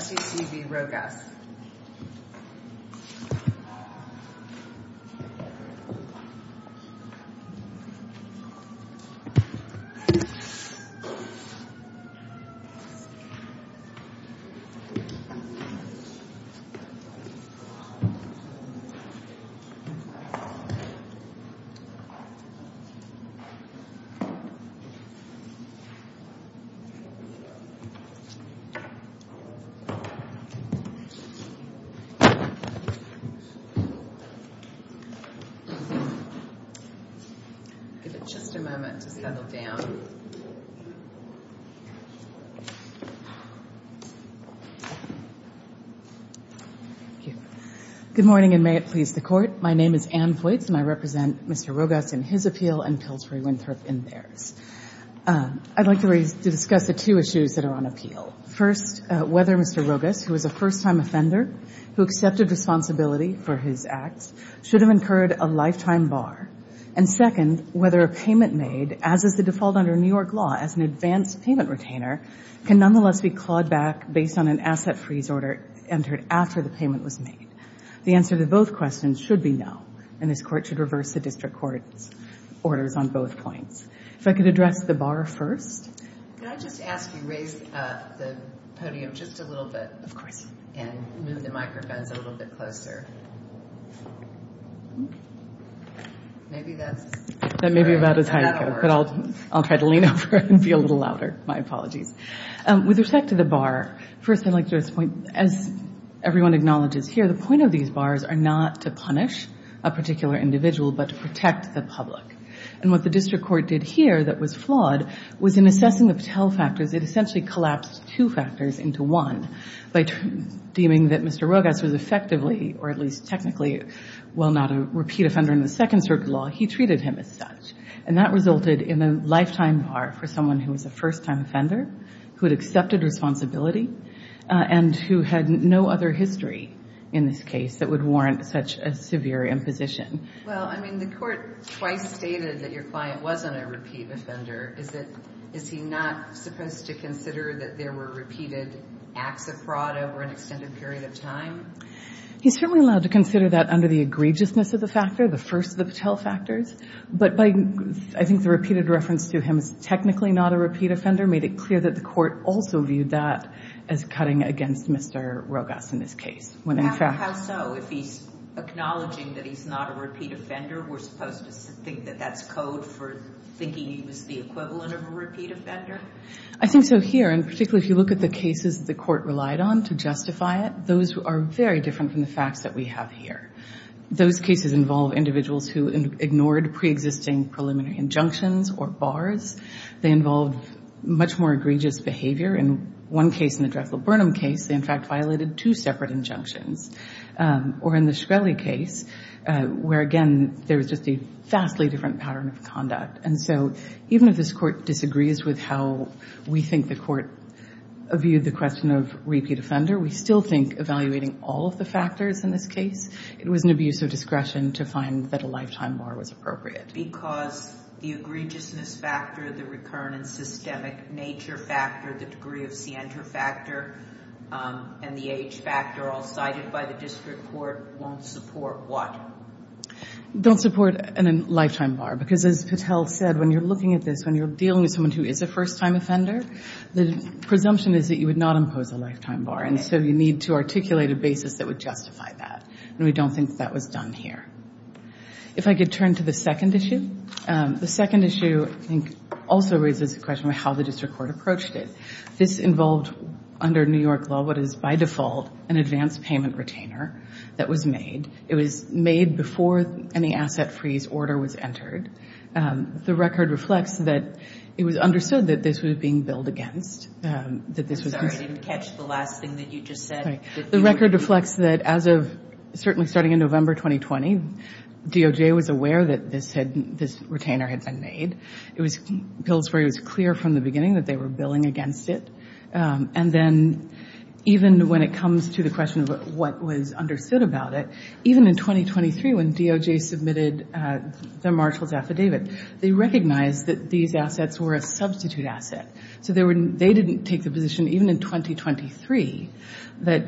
Securities and Exchange Commission v. Rogas Good morning, and may it please the Court. My name is Ann Voights, and I represent Mr. Rogas in his appeal and Pillsbury Winthrop in theirs. I'd like to discuss the two issues that are on appeal. First, whether Mr. Rogas, who is a first-time offender who accepted responsibility for his acts, should have incurred a lifetime bar. And second, whether a payment made, as is the default under New York law as an advanced payment retainer, can nonetheless be clawed back based on an asset freeze order entered after the payment was made. The answer to both questions should be no, and this Court should reverse the district court's orders on both points. If I could address the bar first. With respect to the bar, as everyone acknowledges here, the point of these bars are not to punish a particular individual, but to protect the public. And what the district court did here that was flawed was, in assessing the Patel factors, it essentially collapsed two factors into one by deeming that Mr. Rogas was effectively, or at least technically, while not a repeat offender in the second circuit law, he treated him as such. And that resulted in a lifetime bar for someone who was a first-time offender, who had accepted responsibility, and who had no other history in this case that would warrant such a severe imposition. Well, I mean, the Court twice stated that your client wasn't a repeat offender. Is it – is he not supposed to consider that there were repeated acts of fraud over an extended period of time? He's certainly allowed to consider that under the egregiousness of the factor, the first of the Patel factors. But by – I think the repeated reference to him as technically not a repeat offender made it clear that the Court also viewed that as cutting against Mr. Rogas in this case. How so? If he's acknowledging that he's not a repeat offender, we're supposed to think that that's code for thinking he was the equivalent of a repeat offender? I think so here. And particularly if you look at the cases that the Court relied on to justify it, those are very different from the facts that we have here. Those cases involve individuals who ignored preexisting preliminary injunctions or bars. They involve much more egregious behavior. In one case, in the Drexel Burnham case, they in fact violated two separate injunctions. Or in the Shkreli case, where again, there was just a vastly different pattern of conduct. And so even if this Court disagrees with how we think the Court viewed the question of repeat offender, we still think evaluating all of the factors in this case, it was an abuse of discretion to find that a lifetime bar was appropriate. Because the egregiousness factor, the recurrent and systemic nature factor, the degree of scienter factor, and the age factor all cited by the District Court won't support what? Don't support a lifetime bar. Because as Patel said, when you're looking at this, when you're dealing with someone who is a first-time offender, the presumption is that you would not impose a lifetime bar. And so you need to articulate a basis that would justify that. And we don't think that was done here. If I could turn to the second issue. The second issue, I think, also raises a question of how the District Court approached it. This involved, under New York law, what is by default an advance payment retainer that was made. It was made before any asset freeze order was entered. The record reflects that it was understood that this was being billed against, that this was being... I'm sorry, I didn't catch the last thing that you just said. The record reflects that as of, certainly starting in November 2020, DOJ was aware that this retainer had been made. It was billed where it was clear from the beginning that they were billing against it. And then even when it comes to the question of what was understood about it, even in 2023 when DOJ submitted the Marshall's affidavit, they recognized that these assets were a substitute asset. So they didn't take the position, even in 2023, that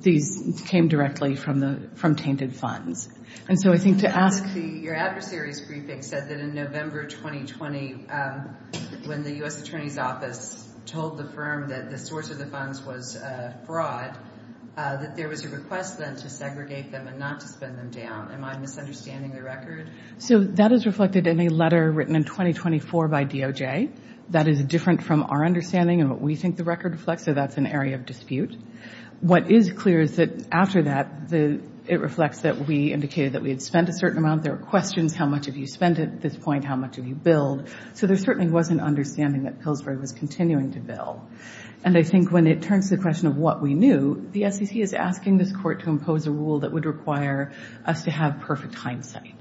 these came directly from tainted funds. And so I think to ask... Your adversary's briefing said that in November 2020, when the U.S. Attorney's Office told the firm that the source of the funds was fraud, that there was a request then to segregate them and not to spend them down. Am I misunderstanding the record? So that is reflected in a letter written in 2024 by DOJ. That is different from our understanding and what we think the record reflects. So that's an area of dispute. What is clear is that after that, it reflects that we indicated that we had spent a certain amount. There are questions, how much have you spent at this point? How much have you billed? So there certainly was an understanding that Pillsbury was continuing to bill. And I think when it turns to the question of what we knew, the SEC is asking this Court to impose a rule that would require us to have perfect hindsight.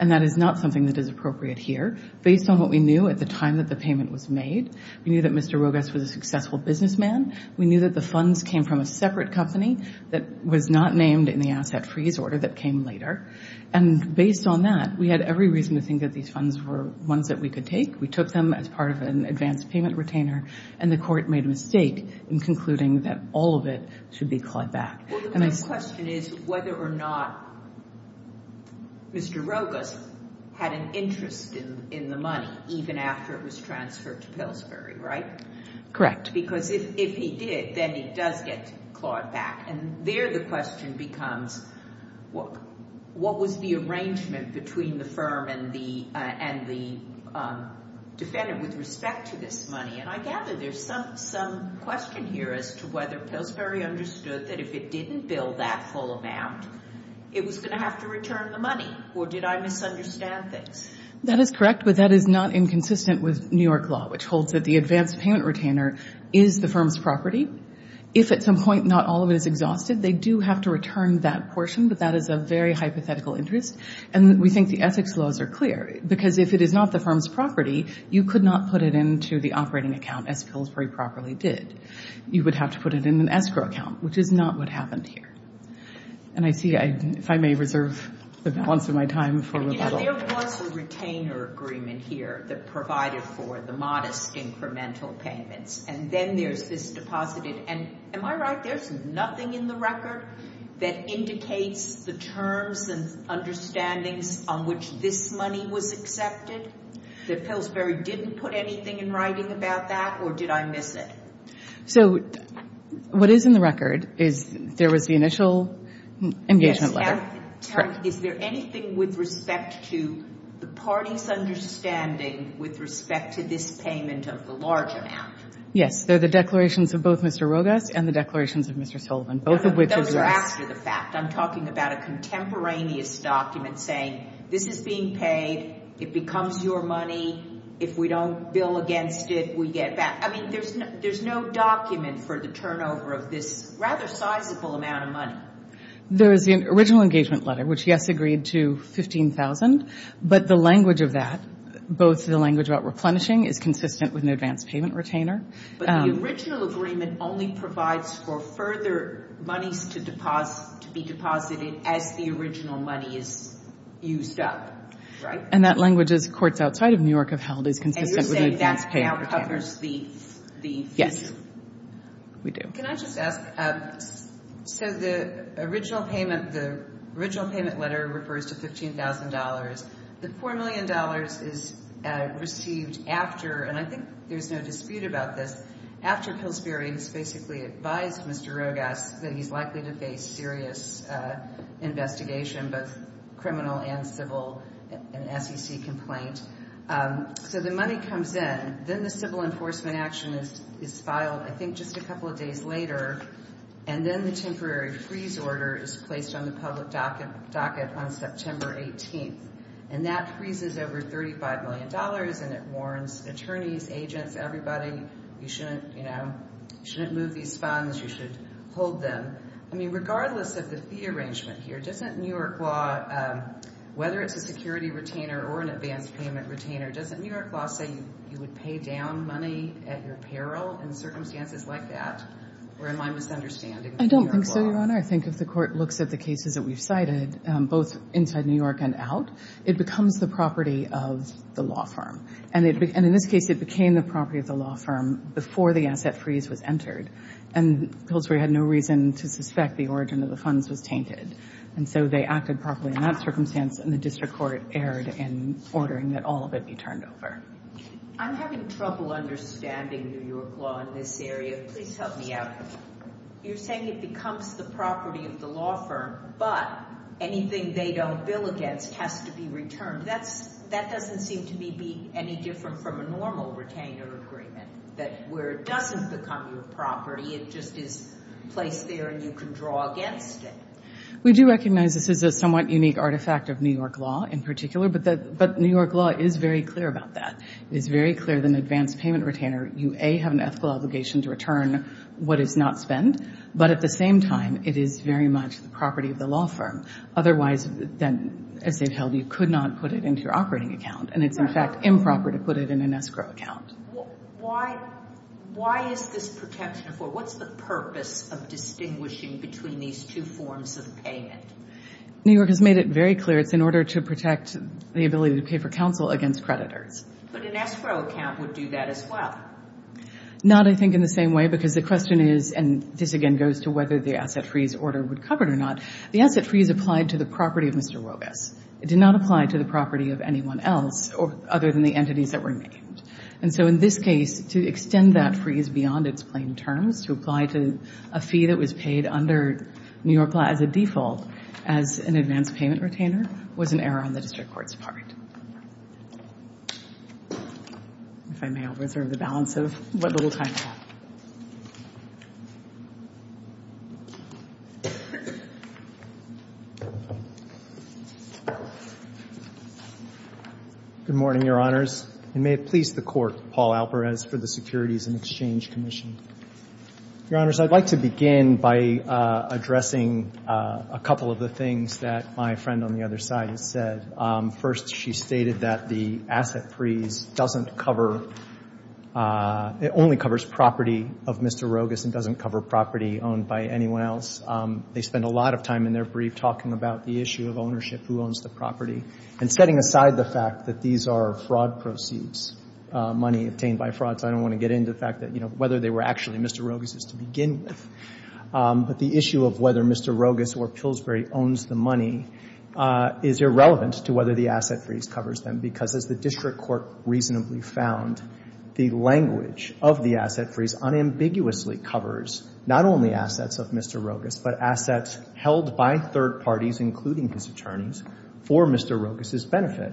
And that is not something that is appropriate here. Based on what we knew at the time that the payment was made, we knew that Mr. Rogas was a successful businessman. We knew that the funds came from a separate company that was not named in the asset freeze order that came later. And based on that, we had every reason to think that these funds were ones that we could take. We took them as part of an advanced payment retainer. And the Court made a mistake in concluding that all of it should be clawed back. Well, the question is whether or not Mr. Rogas had an interest in the money, even after it was transferred to Pillsbury, right? Correct. Because if he did, then it does get clawed back. And there the question becomes, what was the arrangement between the firm and the defendant with respect to this money? And I gather there's some question here as to whether Pillsbury understood that if it didn't bill that full amount, it was going to have to return the money, or did I misunderstand things? That is correct, but that is not inconsistent with New York law, which holds that the advanced payment retainer is the firm's property. If at some point not all of it is exhausted, they do have to return that portion, but that is a very hypothetical interest. And we think the ethics laws are clear, because if it is not the firm's property, you could not put it into the operating account as Pillsbury properly did. You would have to put it in an escrow account, which is not what happened here. And I see, if I may reserve the balance of my time for rebuttal. There was a retainer agreement here that provided for the modest incremental payments, and then there's this deposited. And am I right, there's nothing in the record that indicates the terms and understandings on which this money was accepted, that Pillsbury didn't put anything in writing about that, or did I miss it? So what is in the record is there was the initial engagement letter. Is there anything with respect to the party's understanding with respect to this payment of the large amount? Yes. They're the declarations of both Mr. Rogas and the declarations of Mr. Sullivan, both of which are after the fact. I'm talking about a contemporaneous document saying this is being paid. It becomes your money. If we don't bill against it, we get back. I mean, there's no document for the turnover of this rather sizable amount of money. There is the original engagement letter, which, yes, agreed to $15,000, but the language of that, both the language about replenishing is consistent with an advanced payment retainer. But the original agreement only provides for further monies to be deposited as the original money is used up, right? And that language, as courts outside of New York have held, is consistent with an advanced payment retainer. And you're saying that now covers the fees? We do. Can I just ask, so the original payment, the original payment letter refers to $15,000. The $4 million is received after, and I think there's no dispute about this, after Pillsbury has basically advised Mr. Rogas that he's likely to face serious investigation, both criminal and an SEC complaint. So the money comes in. Then the civil enforcement action is filed, I think, just a couple of days later. And then the temporary freeze order is placed on the public docket on September 18th. And that freezes over $35 million, and it warns attorneys, agents, everybody, you shouldn't move these funds, you should hold them. I mean, regardless of the fee arrangement here, doesn't New York law, whether it's a security retainer or an advanced payment retainer, doesn't New York law say you would pay down money at your peril in circumstances like that, or am I misunderstanding the New York law? I don't think so, Your Honor. I think if the court looks at the cases that we've cited, both inside New York and out, it becomes the property of the law firm. And in this case, it became the property of the law firm before the asset freeze was entered. And Pillsbury had no reason to suspect the origin of the funds was tainted. And so they acted properly in that circumstance, and the district court erred in ordering that all of it be turned over. I'm having trouble understanding New York law in this area. Please help me out. You're saying it becomes the property of the law firm, but anything they don't bill against has to be returned. That doesn't seem to me be any different from a normal retainer agreement, that where it doesn't become your property, it just is placed there and you can draw against it. We do recognize this is a somewhat unique artifact of New York law in particular, but New York law is very clear about that. It is very clear that an advanced payment retainer, you, A, have an ethical obligation to return what is not spent, but at the same time, it is very much the property of the law firm. Otherwise, then, as they've held, you could not put it into your operating account, and it's, in fact, improper to put it in an escrow account. Why is this protection for? What's the purpose of distinguishing between these two forms of payment? New York has made it very clear it's in order to protect the ability to pay for counsel against creditors. But an escrow account would do that as well. Not, I think, in the same way, because the question is, and this again goes to whether the asset freeze order would cover it or not, the asset freeze applied to the property of Mr. Wobus. It did not apply to the property of anyone else other than the entities that were named. And so in this case, to extend that freeze beyond its plain terms, to apply to a fee that was paid under New York law as a default as an advanced payment retainer was an error on the district court's part. If I may, I'll reserve the balance of what little time I have. Good morning, Your Honors. And may it please the Court, Paul Alper, as for the Securities and Exchange Commission. Your Honors, I'd like to begin by addressing a couple of the things that my friend on the other side has said. First, she stated that the asset freeze doesn't cover, it only covers property of Mr. Wobus and doesn't cover property owned by anyone else. They spend a lot of time in their brief talking about the issue of ownership, who owns the property, and setting aside the fact that these are fraud proceeds, money obtained by fraud. So I don't want to get into the fact that, you know, whether they were actually Mr. Wobus's to begin with. But the issue of whether Mr. Wobus or Pillsbury owns the money is irrelevant to whether the asset freeze covers them, because as the district court reasonably found, the language of the asset freeze unambiguously covers not only assets of Mr. Wobus, but assets held by third parties, including his attorneys, for Mr. Wobus's benefit.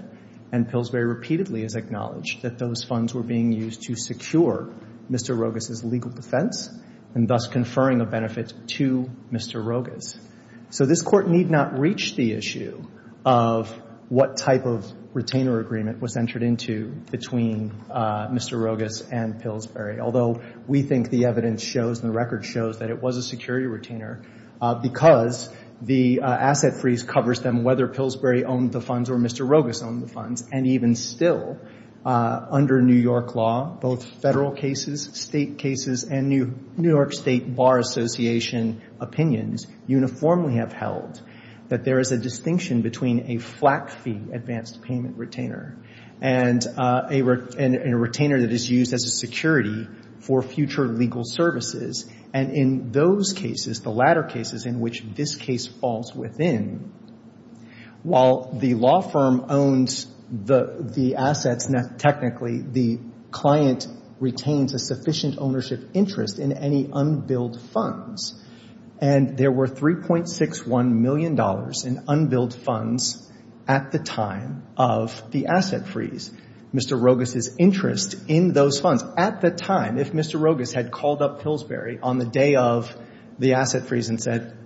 And Pillsbury repeatedly has acknowledged that those funds were being used to secure Mr. Wobus's legal defense and thus conferring a benefit to Mr. Wobus. So this court need not reach the issue of what type of retainer agreement was entered into between Mr. Wobus and Pillsbury, although we think the evidence shows, the record shows, that it was a security retainer because the asset freeze covers them whether Pillsbury owned the funds or Mr. Wobus owned the funds. And even still, under New York law, both federal cases, state cases, and New York State Bar Association opinions uniformly have held that there is a distinction between a flat fee advanced payment retainer and a retainer that is used as a security for future legal services. And in those cases, the latter cases in which this case falls within, while the law firm owns the assets, technically, the client retains a sufficient ownership interest in any unbilled funds. And there were $3.61 million in unbilled funds at the time of the asset freeze. Mr. Wobus's interest in those funds at the time, if Mr. Wobus had called up Pillsbury on the day of the asset freeze and said,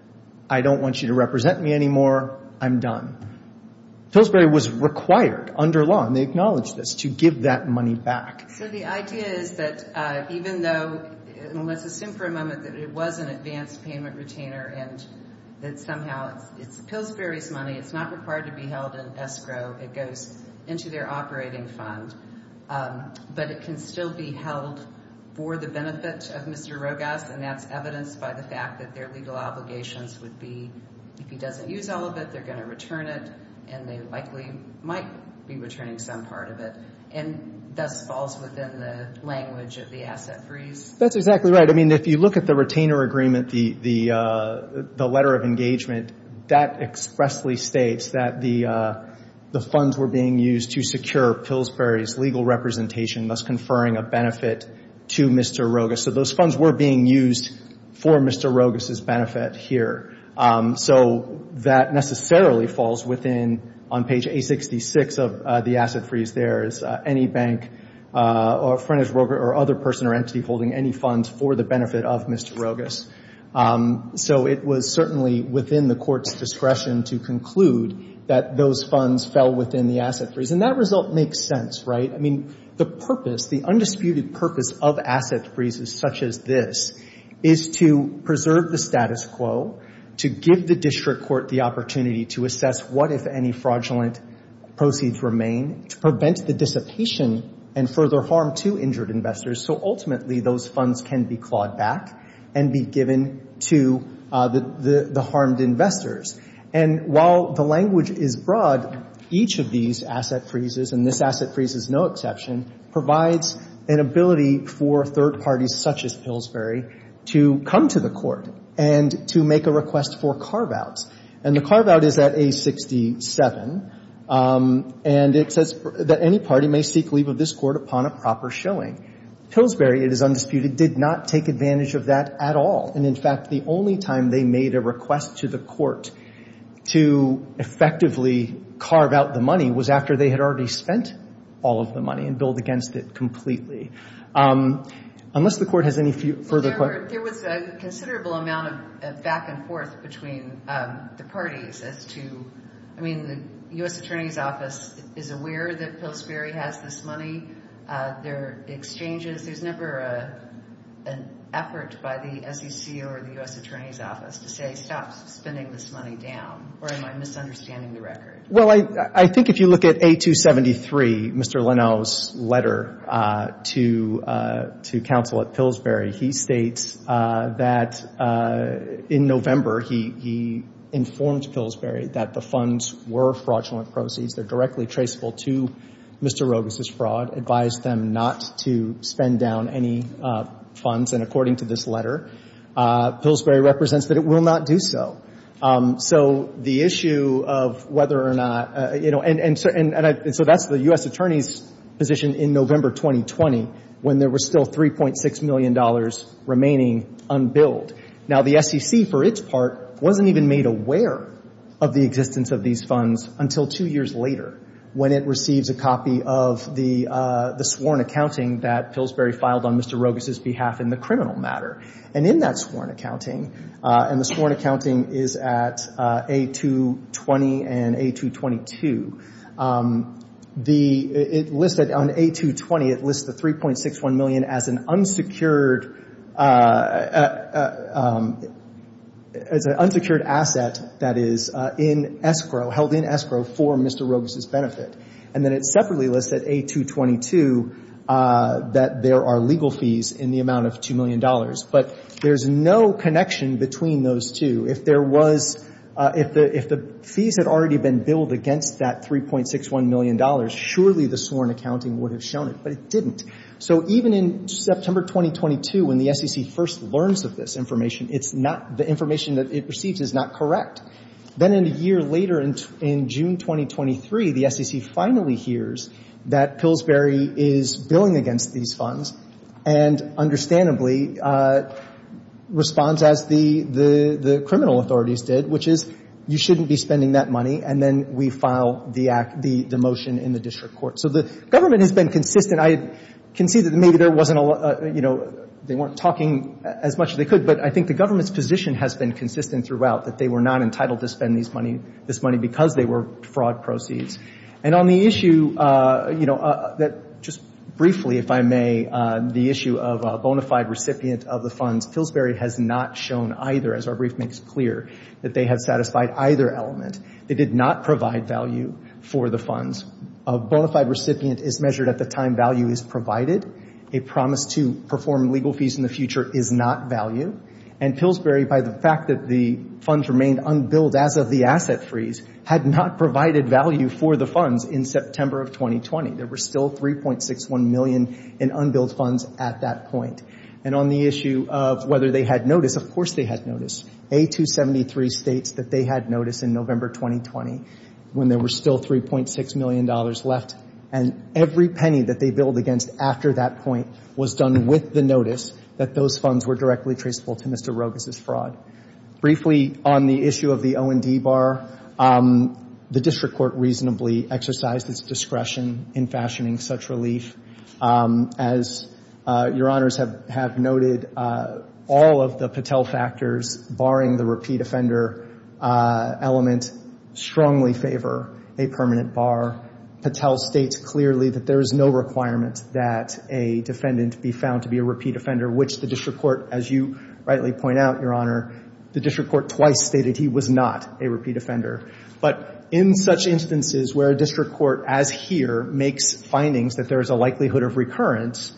I don't want you to represent me anymore, I'm done. Pillsbury was required under law, and they acknowledge this, to give that money back. So the idea is that even though, let's assume for a moment that it was an advanced payment retainer and that somehow it's Pillsbury's money, it's not required to be held in escrow, it goes into their operating fund, but it can still be held for the benefit of Mr. Wobus, and that's evidenced by the fact that their legal obligations would be, if he doesn't use all of it, they're going to return it, and they likely might be returning some part of it, and thus falls within the language of the asset freeze. That's exactly right. I mean, if you look at the retainer agreement, the letter of engagement, that expressly states that the funds were being used to secure Pillsbury's legal representation, thus conferring a benefit to Mr. Wobus. So those funds were being used for Mr. Wobus's benefit here. So that necessarily falls within, on page 866 of the asset freeze there, is any bank or frontage broker or other person or entity holding any funds for the benefit of Mr. Wobus. So it was certainly within the court's discretion to conclude that those funds fell within the asset freeze, and that result makes sense, right? I mean, the purpose, the undisputed purpose of asset freezes such as this is to preserve the status quo, to give the district court the opportunity to assess what, if any, fraudulent proceeds remain, to prevent the dissipation and further harm to injured investors, so ultimately those funds can be clawed back and be given to the harmed investors. And while the language is broad, each of these asset freezes, and this asset freeze is no exception, provides an ability for third parties such as Pillsbury to come to the court and to make a request for carve-outs. And the carve-out is at A67, and it says that any party may seek leave of this court upon a proper showing. Pillsbury, it is undisputed, did not take advantage of that at all. And in fact, the only time they made a request to the court to effectively carve out the money was after they had already spent all of the money and billed against it completely. Unless the court has any further questions. There was a considerable amount of back and forth between the parties as to, I mean, the U.S. Attorney's Office is aware that Pillsbury has this money. Their exchanges, there's never an effort by the SEC or the U.S. Attorney's Office to say, stop spending this money down, or am I misunderstanding the record? Well, I think if you look at A273, Mr. Linnell's letter to counsel at Pillsbury, he states that in November he informed Pillsbury that the funds were fraudulent proceeds. They're directly traceable to Mr. Rogas' fraud, advised them not to spend down any funds. And according to this letter, Pillsbury represents that it will not do so. So the issue of whether or not, you know, and so that's the U.S. Attorney's position in November 2020 when there was still $3.6 million remaining unbilled. Now, the SEC, for its part, wasn't even made aware of the existence of these funds until two years later when it received a copy of the sworn accounting that Pillsbury filed on Mr. Rogas' behalf in the criminal matter. And in that sworn accounting, and the sworn accounting is at A220 and A222, the, it listed on A220, it lists the $3.61 million as an unsecured, as an unsecured asset that is in escrow, held in escrow for Mr. Rogas' benefit. And then it separately lists at A222 that there are legal fees in the amount of $2 million. But there's no connection between those two. If there was, if the fees had already been billed against that $3.61 million, surely the sworn accounting would have shown it, but it didn't. So even in September 2022, when the SEC first learns of this information, it's not, the information that it receives is not correct. Then in a year later in June 2023, the SEC finally hears that Pillsbury is billing against these funds. And understandably, responds as the criminal authorities did, which is you shouldn't be spending that money. And then we file the motion in the district court. So the government has been consistent. I can see that maybe there wasn't a lot, you know, they weren't talking as much as they could. But I think the government's position has been consistent throughout that they were not entitled to spend this money because they were fraud proceeds. And on the issue, you know, that just of the funds, Pillsbury has not shown either, as our brief makes clear, that they have satisfied either element. They did not provide value for the funds. A bona fide recipient is measured at the time value is provided. A promise to perform legal fees in the future is not value. And Pillsbury, by the fact that the funds remained unbilled as of the asset freeze, had not provided value for the funds in September of 2020. There were still $3.61 million in unbilled funds at that point. And on the issue of whether they had notice, of course they had notice. A273 states that they had notice in November 2020, when there were still $3.6 million left. And every penny that they billed against after that point was done with the notice that those funds were directly traceable to Mr. Rogas' fraud. Briefly, on the issue of the O&D bar, the district court reasonably exercised its discretion in fashioning such relief. As Your Honors have noted, all of the Patel factors, barring the repeat offender element, strongly favor a permanent bar. Patel states clearly that there is no requirement that a defendant be found to be a repeat offender, which the district court, as you rightly point out, Your Honor, the district court twice stated he was not a repeat makes findings that there is a likelihood of recurrence.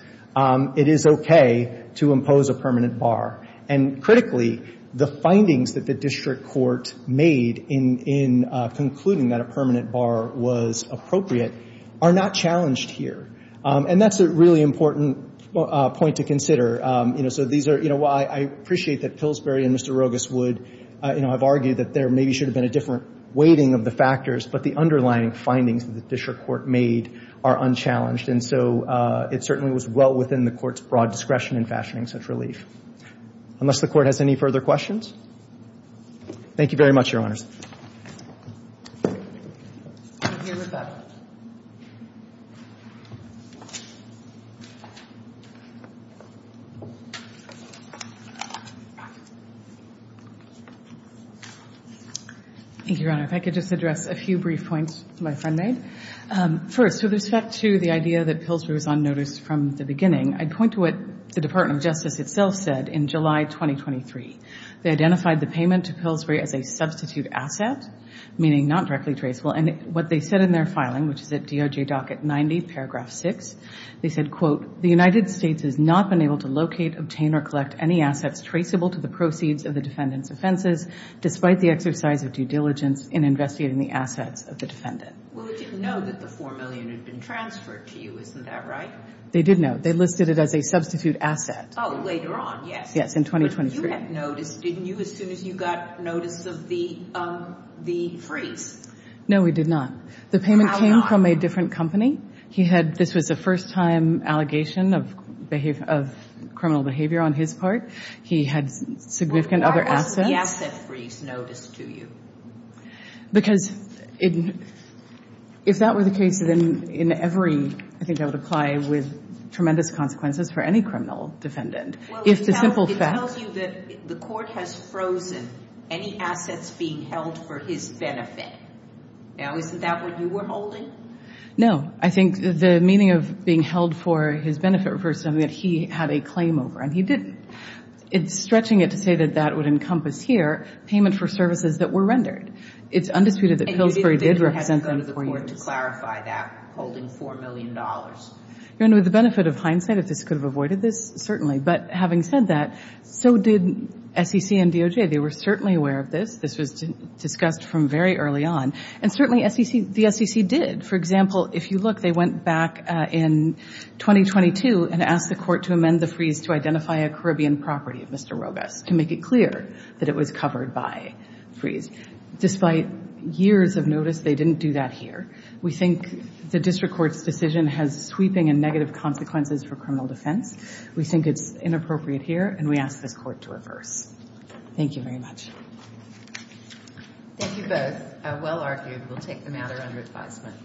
It is okay to impose a permanent bar. And critically, the findings that the district court made in concluding that a permanent bar was appropriate are not challenged here. And that's a really important point to consider. You know, so these are, you know, I appreciate that Pillsbury and Mr. Rogas would, you know, have argued that there maybe should have been a different weighting of the factors, but the underlying findings that the district court made are unchallenged. And so it certainly was well within the court's broad discretion in fashioning such relief. Unless the court has any further questions? Thank you very much, Your Honors. Thank you, Your Honor. If I could just address a few brief points my friend made. First, with respect to the idea that Pillsbury was on notice from the beginning, I'd point to what the Department of meaning not directly traceable. And what they said in their filing, which is at DOJ docket 90, paragraph 6, they said, quote, the United States has not been able to locate, obtain, or collect any assets traceable to the proceeds of the defendant's offenses, despite the exercise of due diligence in investigating the assets of the defendant. Well, they didn't know that the $4 million had been transferred to you, isn't that right? They did know. They listed it as a substitute asset. Oh, later on, yes. Yes, in 2023. But you had noticed, didn't you, as soon as you got notice of the freeze? No, we did not. The payment came from a different company. He had, this was a first time allegation of criminal behavior on his part. He had significant other assets. Why wasn't the asset freeze noticed to you? Because if that were the case, then in every, I think that would apply with tremendous consequences for any criminal defendant. Well, it tells you that the court has frozen any assets being held for his benefit. Now, isn't that what you were holding? No, I think the meaning of being held for his benefit refers to something that he had a claim over, and he didn't. It's stretching it to say that that would encompass here payment for services that were rendered. It's undisputed that Pillsbury did represent them for you. And you didn't go to the court to clarify that, holding $4 million. And with the benefit of hindsight, if this could have avoided this, certainly. But having said that, so did SEC and DOJ. They were certainly aware of this. This was discussed from very early on. And certainly SEC, the SEC did. For example, if you look, they went back in 2022 and asked the court to amend the freeze to identify a Caribbean property of Mr. Rogas, to make it clear that it was covered by freeze. Despite years of notice, they didn't do that here. We think the district court's decision has sweeping and negative consequences for criminal defense. We think it's inappropriate here, and we ask this court to reverse. Thank you very much. Thank you both. Well argued. We'll take the matter under advisement.